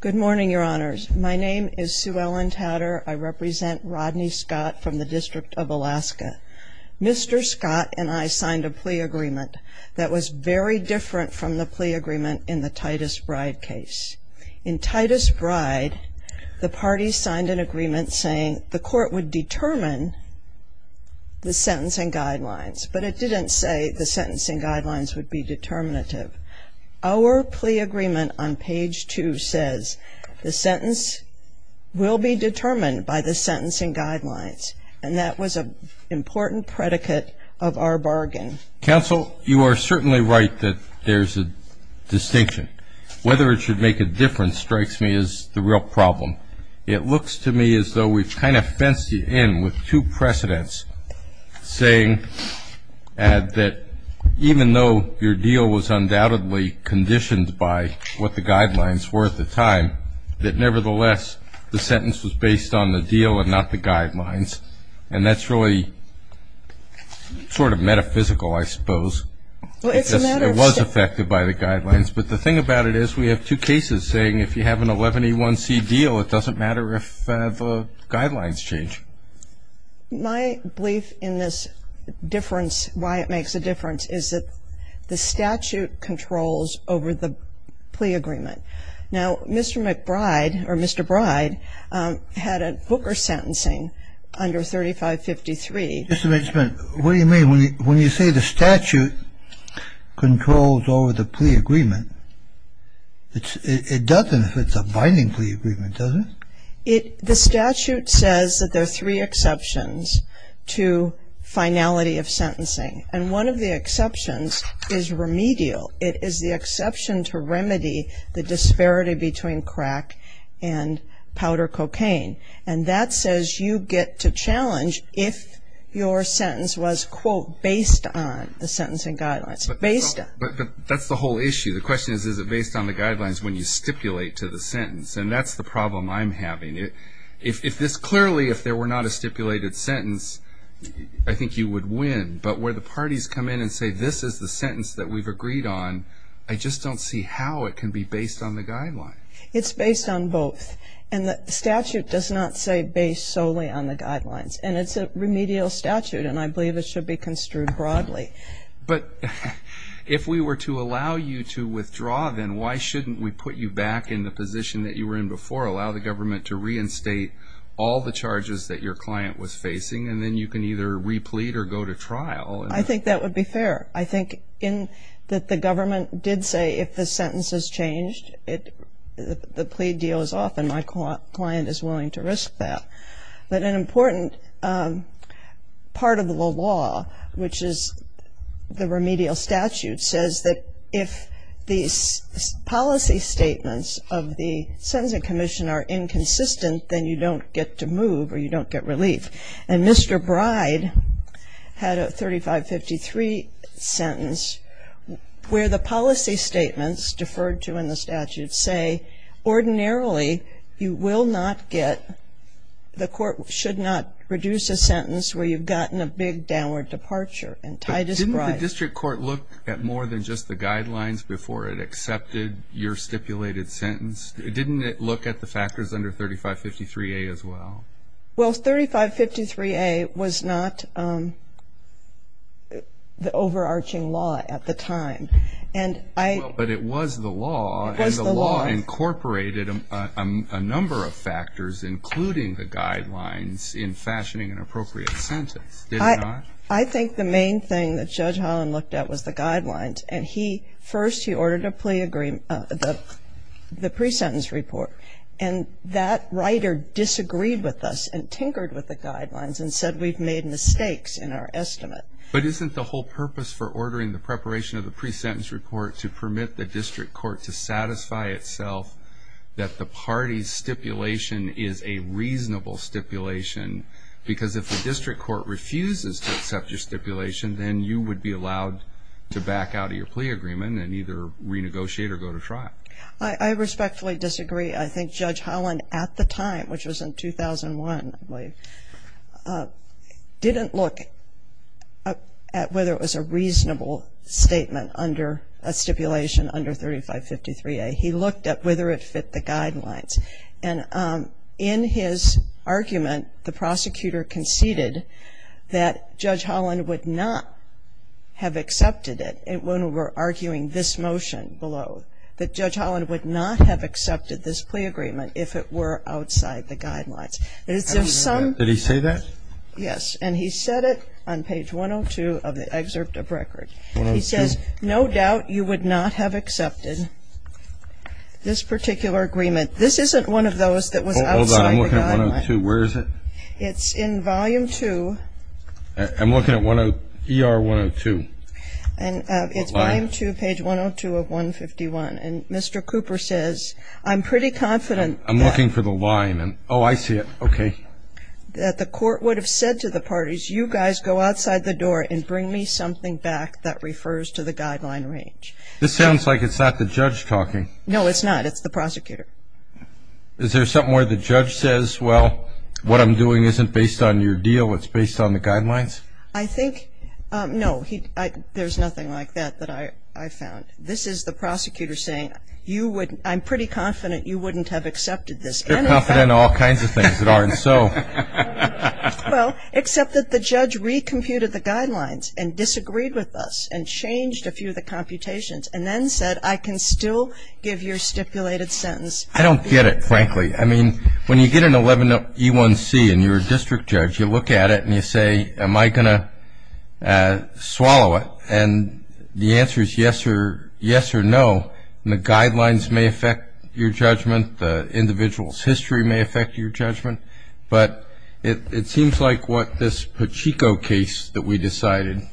Good morning, Your Honors. My name is Sue Ellen Tatter. I represent Rodney Scott from the District of Alaska. Mr. Scott and I signed a plea agreement that was very different from the plea agreement in the Titus Bride case. In Titus Bride, the parties signed an agreement saying the court would determine the sentencing guidelines, but it didn't say the sentencing guidelines would be determinative. Our plea agreement on page 2 says the sentence will be determined by the sentencing guidelines, and that was an important predicate of our bargain. Counsel, you are certainly right that there's a distinction. Whether it should make a difference strikes me as the real problem. It looks to me as though we've kind of fenced you in with two precedents, saying that even though your deal was undoubtedly conditioned by what the guidelines were at the time, that nevertheless the sentence was based on the deal and not the guidelines, and that's really sort of metaphysical, I suppose. It was affected by the guidelines, but the thing about it is we have two cases saying if you have an 11A1C deal, it doesn't matter if the guidelines change. My belief in this difference, why it makes a difference, is that the statute controls over the plea agreement. Now, Mr. McBride, or Mr. Bride, had a Booker sentencing under 3553. What do you mean when you say the statute controls over the plea agreement? It doesn't if it's a binding plea agreement, does it? The statute says that there are three exceptions to finality of sentencing, and one of the exceptions is remedial. It is the exception to remedy the disparity between crack and powder cocaine, and that says you get to challenge if your sentence was, quote, based on the sentencing guidelines, based on. But that's the whole issue. The question is is it based on the guidelines when you stipulate to the sentence, and that's the problem I'm having. If this clearly, if there were not a stipulated sentence, I think you would win, but where the parties come in and say this is the sentence that we've agreed on, I just don't see how it can be based on the guidelines. It's based on both, and the statute does not say based solely on the guidelines, and it's a remedial statute, and I believe it should be construed broadly. But if we were to allow you to withdraw, then why shouldn't we put you back in the position that you were in before, allow the government to reinstate all the charges that your client was facing, and then you can either replete or go to trial? I think that would be fair. I think that the government did say if the sentence is changed, the plea deal is off, and my client is willing to risk that. But an important part of the law, which is the remedial statute, says that if the policy statements of the Sentencing Commission are inconsistent, then you don't get to move or you don't get relief. And Mr. Bride had a 3553 sentence where the policy statements deferred to in the statute say ordinarily you will not get, the court should not reduce a sentence where you've gotten a big downward departure. And Titus Bride… But didn't the district court look at more than just the guidelines before it accepted your stipulated sentence? Didn't it look at the factors under 3553A as well? Well, 3553A was not the overarching law at the time. And I… But it was the law. It was the law. And the law incorporated a number of factors, including the guidelines in fashioning an appropriate sentence. Did it not? I think the main thing that Judge Holland looked at was the guidelines. And he, first he ordered a plea agreement, the pre-sentence report. And that writer disagreed with us and tinkered with the guidelines and said we've made mistakes in our estimate. But isn't the whole purpose for ordering the preparation of the pre-sentence report to permit the district court to satisfy itself that the party's stipulation is a reasonable stipulation? Because if the district court refuses to accept your stipulation, then you would be allowed to back out of your plea agreement and either renegotiate or go to trial. I respectfully disagree. I think Judge Holland at the time, which was in 2001, I believe, didn't look at whether it was a reasonable statement under a stipulation under 3553A. He looked at whether it fit the guidelines. And in his argument, the prosecutor conceded that Judge Holland would not have accepted it when we were arguing this motion below, that Judge Holland would not have accepted this plea agreement if it were outside the guidelines. Did he say that? Yes. And he said it on page 102 of the excerpt of record. He says, no doubt you would not have accepted this particular agreement. This isn't one of those that was outside the guidelines. Hold on. I'm looking at 102. Where is it? It's in volume 2. I'm looking at ER 102. And it's volume 2, page 102 of 151. And Mr. Cooper says, I'm pretty confident that the court would have said to the parties, you guys go outside the door and bring me something back that refers to the guideline range. This sounds like it's not the judge talking. No, it's not. It's the prosecutor. Is there something where the judge says, well, what I'm doing isn't based on your deal, it's based on the guidelines? I think, no, there's nothing like that that I found. This is the prosecutor saying, I'm pretty confident you wouldn't have accepted this. You're confident of all kinds of things that aren't so. Well, except that the judge recomputed the guidelines and disagreed with us and changed a few of the computations and then said, I can still give your stipulated sentence. I don't get it, frankly. I mean, when you get an 11E1C and you're a district judge, you look at it and you say, am I going to swallow it? And the answer is yes or no, and the guidelines may affect your judgment, the individual's history may affect your judgment. But it seems like what this Pachico case that we decided, the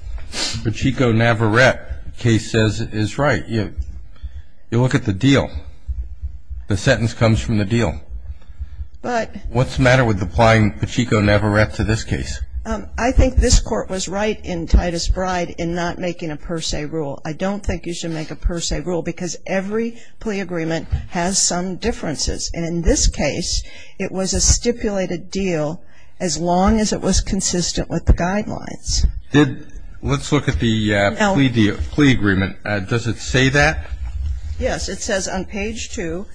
Pachico-Navarrette case says is right. You look at the deal. The sentence comes from the deal. What's the matter with applying Pachico-Navarrette to this case? I think this Court was right in Titus Bride in not making a per se rule. I don't think you should make a per se rule because every plea agreement has some differences. And in this case, it was a stipulated deal as long as it was consistent with the guidelines. Let's look at the plea agreement. Does it say that? Yes. It says on page two,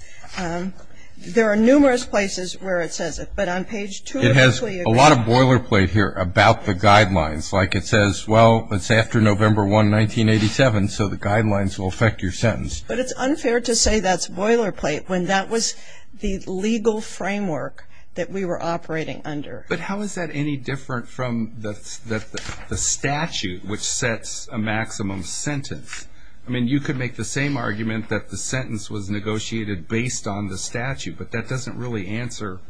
there are numerous places where it says it, but on page two of the plea agreement. It has a lot of boilerplate here about the guidelines. Like it says, well, it's after November 1, 1987, so the guidelines will affect your sentence. But it's unfair to say that's boilerplate when that was the legal framework that we were operating under. But how is that any different from the statute which sets a maximum sentence? I mean, you could make the same argument that the sentence was negotiated based on the statute, but that doesn't really answer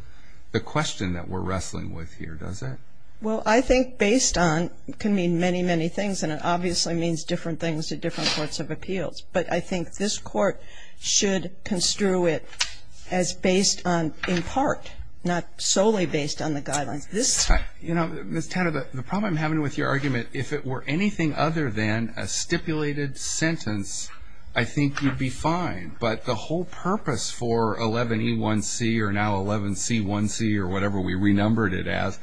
the question that we're wrestling with here, does it? Well, I think based on can mean many, many things, and it obviously means different things to different courts of appeals. But I think this Court should construe it as based on in part, not solely based on the guidelines. Ms. Tanner, the problem I'm having with your argument, if it were anything other than a stipulated sentence, I think you'd be fine. But the whole purpose for 11E1C or now 11C1C or whatever we renumbered it as,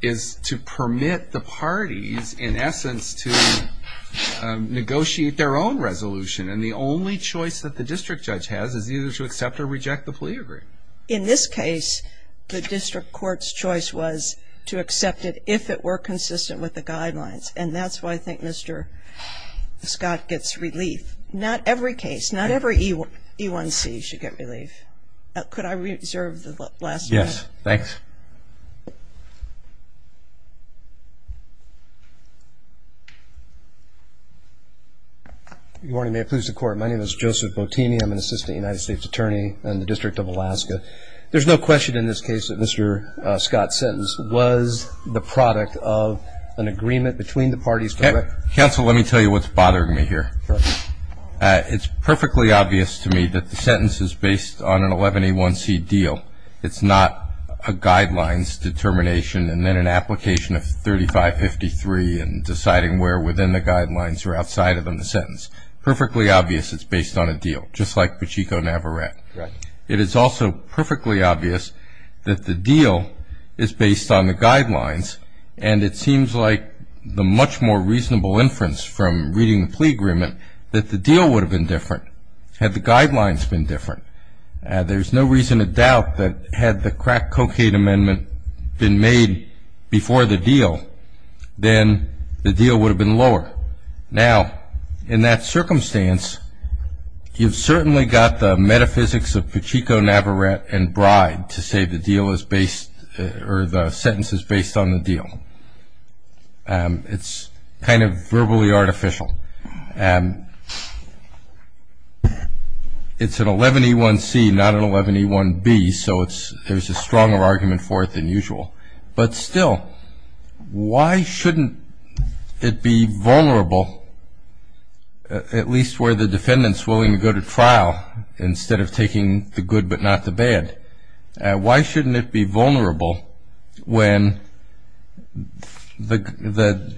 is to permit the parties, in essence, to negotiate their own resolution. And the only choice that the district judge has is either to accept or reject the plea agreement. In this case, the district court's choice was to accept it if it were consistent with the guidelines. And that's why I think Mr. Scott gets relief. Not every case, not every E1C should get relief. Could I reserve the last word? Yes, thanks. Good morning. May it please the Court. My name is Joseph Botini. I'm an assistant United States attorney in the District of Alaska. There's no question in this case that Mr. Scott's sentence was the product of an agreement between the parties. Counsel, let me tell you what's bothering me here. It's perfectly obvious to me that the sentence is based on an 11E1C deal. It's not a guidelines determination and then an application of 3553 and deciding where within the guidelines or outside of them the sentence. It's perfectly obvious it's based on a deal, just like Pachico-Navarrete. It is also perfectly obvious that the deal is based on the guidelines, and it seems like the much more reasonable inference from reading the plea agreement that the deal would have been different had the guidelines been different. There's no reason to doubt that had the crack cocaine amendment been made before the deal, then the deal would have been lower. Now, in that circumstance, you've certainly got the metaphysics of Pachico-Navarrete and Bride to say the deal is based or the sentence is based on the deal. It's kind of verbally artificial. It's an 11E1C, not an 11E1B, so there's a stronger argument for it than usual. But still, why shouldn't it be vulnerable, at least where the defendant's willing to go to trial, instead of taking the good but not the bad? Why shouldn't it be vulnerable when the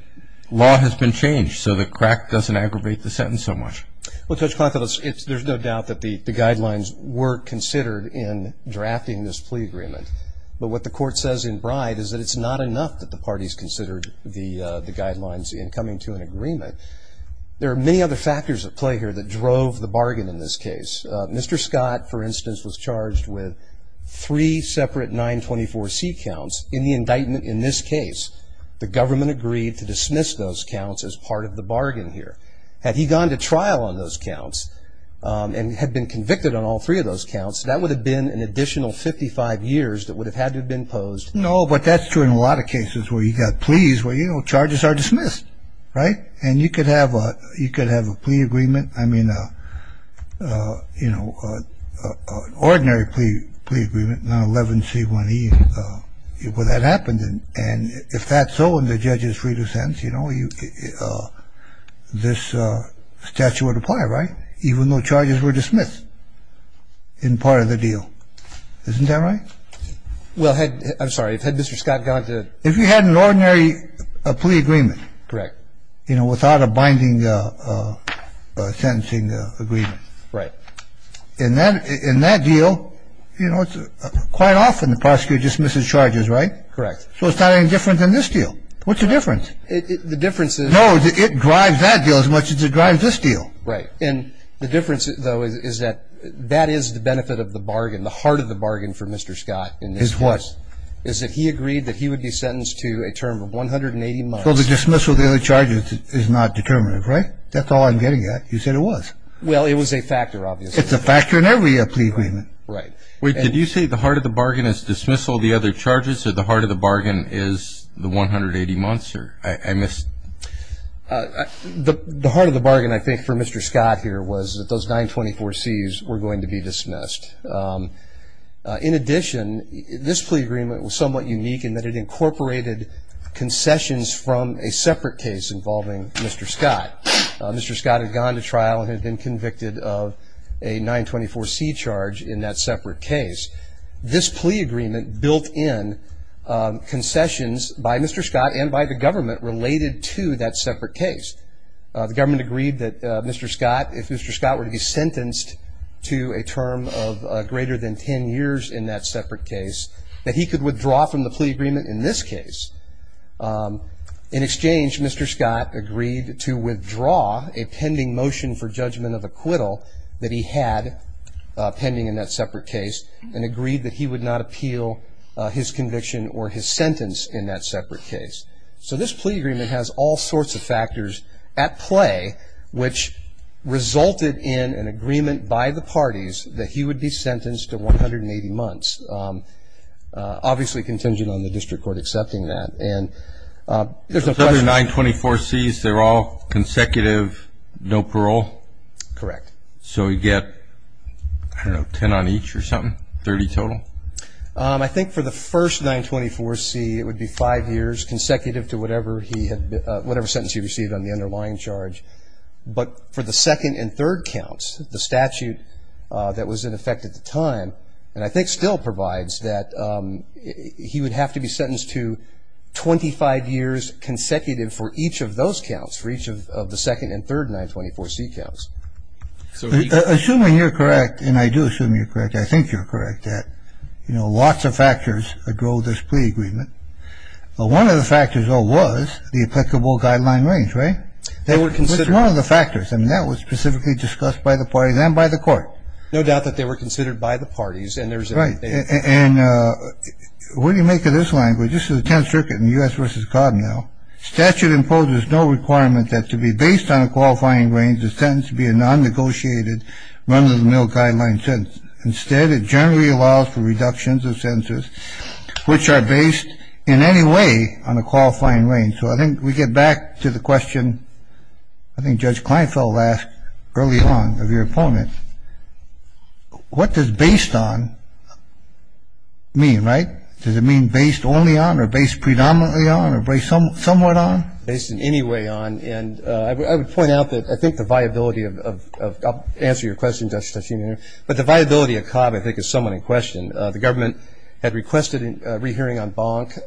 law has been changed so the crack doesn't aggravate the sentence so much? Well, Judge Klinefeld, there's no doubt that the guidelines were considered in drafting this plea agreement. But what the court says in Bride is that it's not enough that the parties considered the guidelines in coming to an agreement. There are many other factors at play here that drove the bargain in this case. Mr. Scott, for instance, was charged with three separate 924C counts in the indictment in this case. The government agreed to dismiss those counts as part of the bargain here. Had he gone to trial on those counts and had been convicted on all three of those counts, that would have been an additional 55 years that would have had to have been posed. No, but that's true in a lot of cases where you've got pleas where, you know, charges are dismissed, right? And you could have a plea agreement, I mean, you know, an ordinary plea agreement, not 11C1E. Well, that happened, and if that's so and the judge is free to sentence, you know, this statute would apply, right? Even though charges were dismissed in part of the deal. Isn't that right? Well, I'm sorry. Had Mr. Scott gone to – If you had an ordinary plea agreement, you know, without a binding sentencing agreement. Right. In that deal, you know, quite often the prosecutor dismisses charges, right? Correct. So it's not any different than this deal. What's the difference? The difference is – No, it drives that deal as much as it drives this deal. Right. And the difference, though, is that that is the benefit of the bargain, the heart of the bargain for Mr. Scott in this case. Is what? Is that he agreed that he would be sentenced to a term of 180 months. So the dismissal of the other charges is not determinative, right? That's all I'm getting at. You said it was. Well, it was a factor, obviously. It's a factor in every plea agreement. Right. Wait, did you say the heart of the bargain is dismissal of the other charges or the heart of the bargain is the 180 months? The heart of the bargain, I think, for Mr. Scott here was that those 924Cs were going to be dismissed. In addition, this plea agreement was somewhat unique in that it incorporated concessions from a separate case involving Mr. Scott. Mr. Scott had gone to trial and had been convicted of a 924C charge in that separate case. This plea agreement built in concessions by Mr. Scott and by the government related to that separate case. The government agreed that Mr. Scott, if Mr. Scott were to be sentenced to a term of greater than 10 years in that separate case, that he could withdraw from the plea agreement in this case. In exchange, Mr. Scott agreed to withdraw a pending motion for judgment of acquittal that he had pending in that separate case. And agreed that he would not appeal his conviction or his sentence in that separate case. So this plea agreement has all sorts of factors at play, which resulted in an agreement by the parties that he would be sentenced to 180 months. Obviously contingent on the district court accepting that. And there's a question. So those 924Cs, they're all consecutive, no parole? Correct. So you get, I don't know, 10 on each or something? 30 total? I think for the first 924C it would be five years consecutive to whatever he had, whatever sentence he received on the underlying charge. But for the second and third counts, the statute that was in effect at the time, and I think still provides that he would have to be sentenced to 25 years consecutive for each of those counts, for each of the second and third 924C counts. Assuming you're correct, and I do assume you're correct, I think you're correct, that lots of factors drove this plea agreement. One of the factors, though, was the applicable guideline range, right? They were considered. Which is one of the factors. I mean, that was specifically discussed by the parties and by the court. No doubt that they were considered by the parties. Right. And what do you make of this language? This is the 10th Circuit in U.S. v. Connell. Statute imposes no requirement that to be based on a qualifying range, a sentence be a non-negotiated, run-of-the-mill guideline sentence. Instead, it generally allows for reductions of sentences which are based in any way on a qualifying range. So I think we get back to the question I think Judge Kleinfeld asked early on of your opponent. What does based on mean, right? Does it mean based only on or based predominantly on or based somewhat on? Based in any way on. And I would point out that I think the viability of ‑‑ I'll answer your question, Judge Tasheem, but the viability of Cobb I think is somewhat in question. The government had requested a rehearing en banc,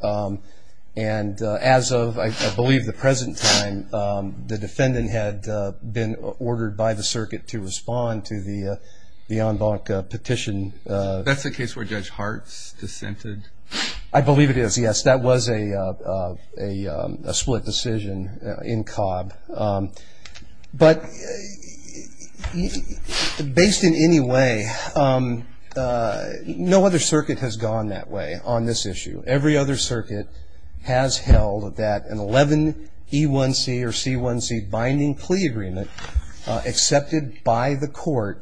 and as of, I believe, the present time, the defendant had been ordered by the Circuit to respond to the en banc petition. That's the case where Judge Hartz dissented? I believe it is, yes. That was a split decision in Cobb. But based in any way, no other circuit has gone that way on this issue. Every other circuit has held that an 11E1C or C1C binding plea agreement accepted by the court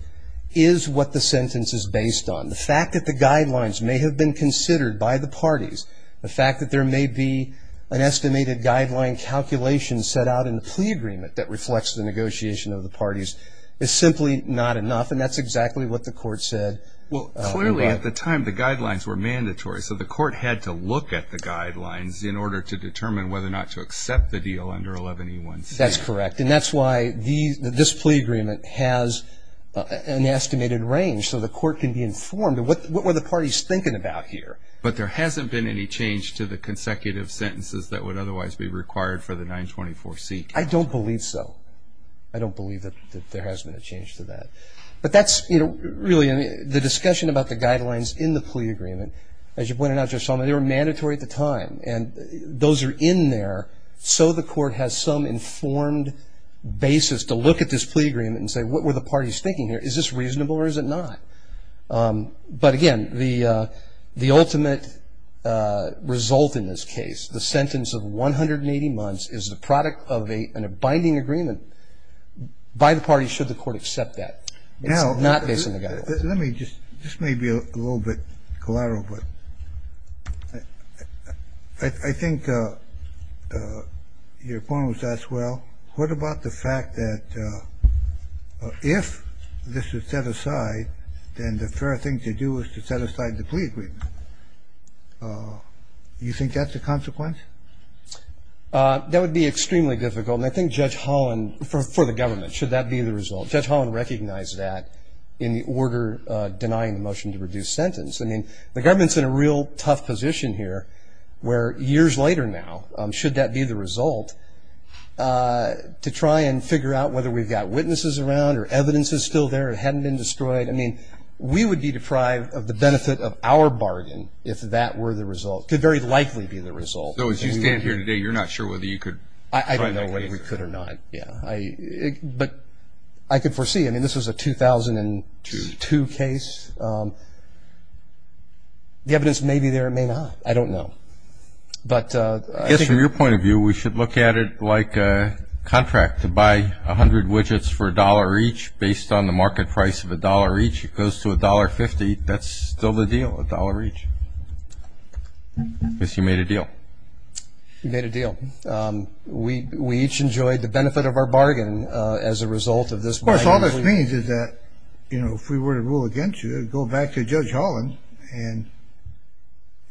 is what the sentence is based on. The fact that the guidelines may have been considered by the parties, the fact that there may be an estimated guideline calculation set out in the plea agreement that reflects the negotiation of the parties is simply not enough, and that's exactly what the court said. Well, clearly at the time the guidelines were mandatory, so the court had to look at the guidelines in order to determine whether or not to accept the deal under 11E1C. That's correct, and that's why this plea agreement has an estimated range so the court can be informed of what were the parties thinking about here. But there hasn't been any change to the consecutive sentences that would otherwise be required for the 924C. I don't believe so. I don't believe that there has been a change to that. But that's really the discussion about the guidelines in the plea agreement. As you pointed out, Judge Solomon, they were mandatory at the time, and those are in there so the court has some informed basis to look at this plea agreement and say what were the parties thinking here. Is this reasonable or is it not? But again, the ultimate result in this case, the sentence of 180 months, is the product of a binding agreement by the parties should the court accept that. It's not based on the guidelines. Let me just, this may be a little bit collateral, but I think your point was asked well, what about the fact that if this is set aside, then the fair thing to do is to set aside the plea agreement. Do you think that's a consequence? That would be extremely difficult, and I think Judge Holland, for the government, should that be the result. Judge Holland recognized that in the order denying the motion to reduce sentence. I mean, the government's in a real tough position here where years later now, should that be the result, to try and figure out whether we've got witnesses around or evidence is still there or hadn't been destroyed. I mean, we would be deprived of the benefit of our bargain if that were the result. It could very likely be the result. So as you stand here today, you're not sure whether you could find a way. I don't know whether we could or not. Yeah. But I could foresee. I mean, this was a 2002 case. The evidence may be there, it may not. I don't know. I guess from your point of view, we should look at it like a contract to buy 100 widgets for $1 each, based on the market price of $1 each. It goes to $1.50, that's still the deal, $1 each. Miss, you made a deal. We made a deal. We each enjoyed the benefit of our bargain as a result of this bargain. Of course, all this means is that, you know, if we were to rule against you, go back to Judge Holland and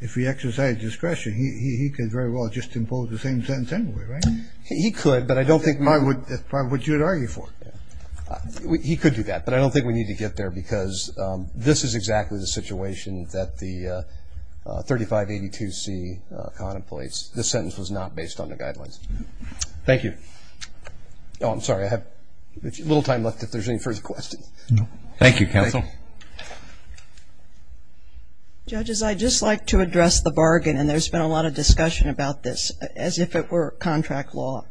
if we exercise discretion, he could very well just impose the same sentence anyway, right? He could, but I don't think we would. That's probably what you would argue for. He could do that, but I don't think we need to get there because this is exactly the situation that the 3582C contemplates. This sentence was not based on the guidelines. Thank you. Oh, I'm sorry, I have a little time left if there's any further questions. No. Thank you, counsel. Judges, I'd just like to address the bargain, and there's been a lot of discussion about this, as if it were contract law.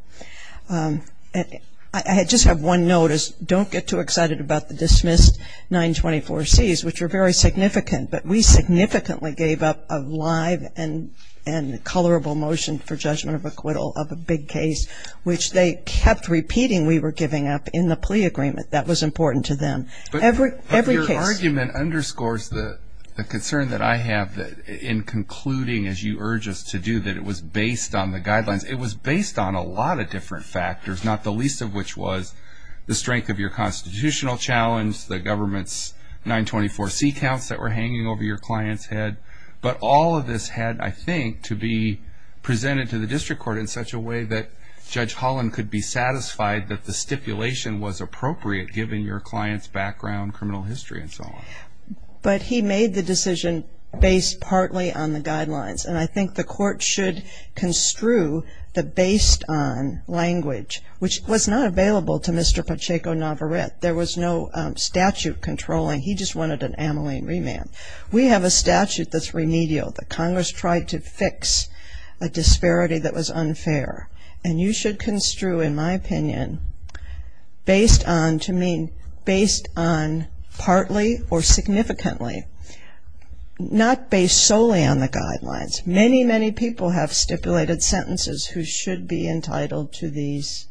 I just have one note is don't get too excited about the dismissed 924Cs, which are very significant, but we significantly gave up a live and colorable motion for judgment of acquittal of a big case, which they kept repeating we were giving up in the plea agreement. That was important to them. But your argument underscores the concern that I have in concluding, as you urge us to do, that it was based on the guidelines. It was based on a lot of different factors, not the least of which was the strength of your constitutional challenge, the government's 924C counts that were hanging over your client's head. But all of this had, I think, to be presented to the district court in such a way that Judge Holland could be satisfied that the stipulation was appropriate, given your client's background, criminal history, and so on. But he made the decision based partly on the guidelines, and I think the court should construe the based on language, which was not available to Mr. Pacheco-Navarrete. There was no statute controlling. He just wanted an ameline remand. We have a statute that's remedial that Congress tried to fix a disparity that was unfair, and you should construe, in my opinion, based on to mean based on partly or significantly, not based solely on the guidelines. Many, many people have stipulated sentences who should be entitled to this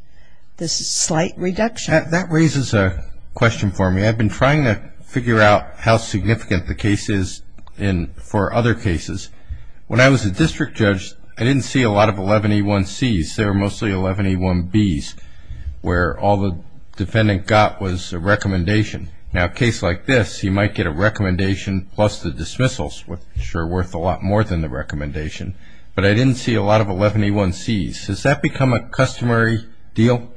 slight reduction. That raises a question for me. I've been trying to figure out how significant the case is for other cases. When I was a district judge, I didn't see a lot of 11A1Cs. There were mostly 11A1Bs where all the defendant got was a recommendation. Now, a case like this, you might get a recommendation plus the dismissals, which are worth a lot more than the recommendation. But I didn't see a lot of 11A1Cs. Has that become a customary deal?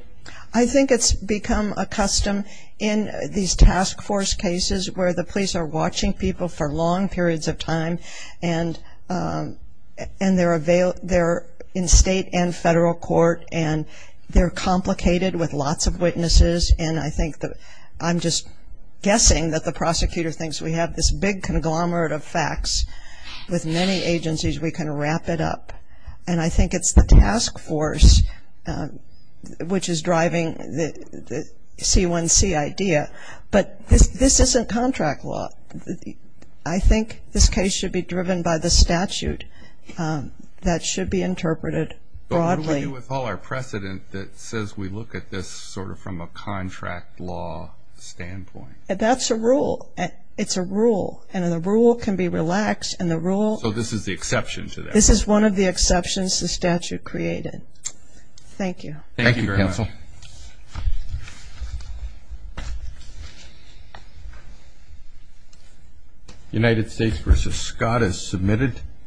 I think it's become a custom in these task force cases where the police are watching people for long periods of time, and they're in state and federal court, and they're complicated with lots of witnesses, and I think that I'm just guessing that the prosecutor thinks we have this big conglomerate of facts. With many agencies, we can wrap it up. And I think it's the task force which is driving the C1C idea. But this isn't contract law. I think this case should be driven by the statute. That should be interpreted broadly. I agree with all our precedent that says we look at this sort of from a contract law standpoint. That's a rule. It's a rule, and the rule can be relaxed. So this is the exception to that rule? This is one of the exceptions the statute created. Thank you. Thank you very much. Thank you, counsel. United States v. Scott is submitted.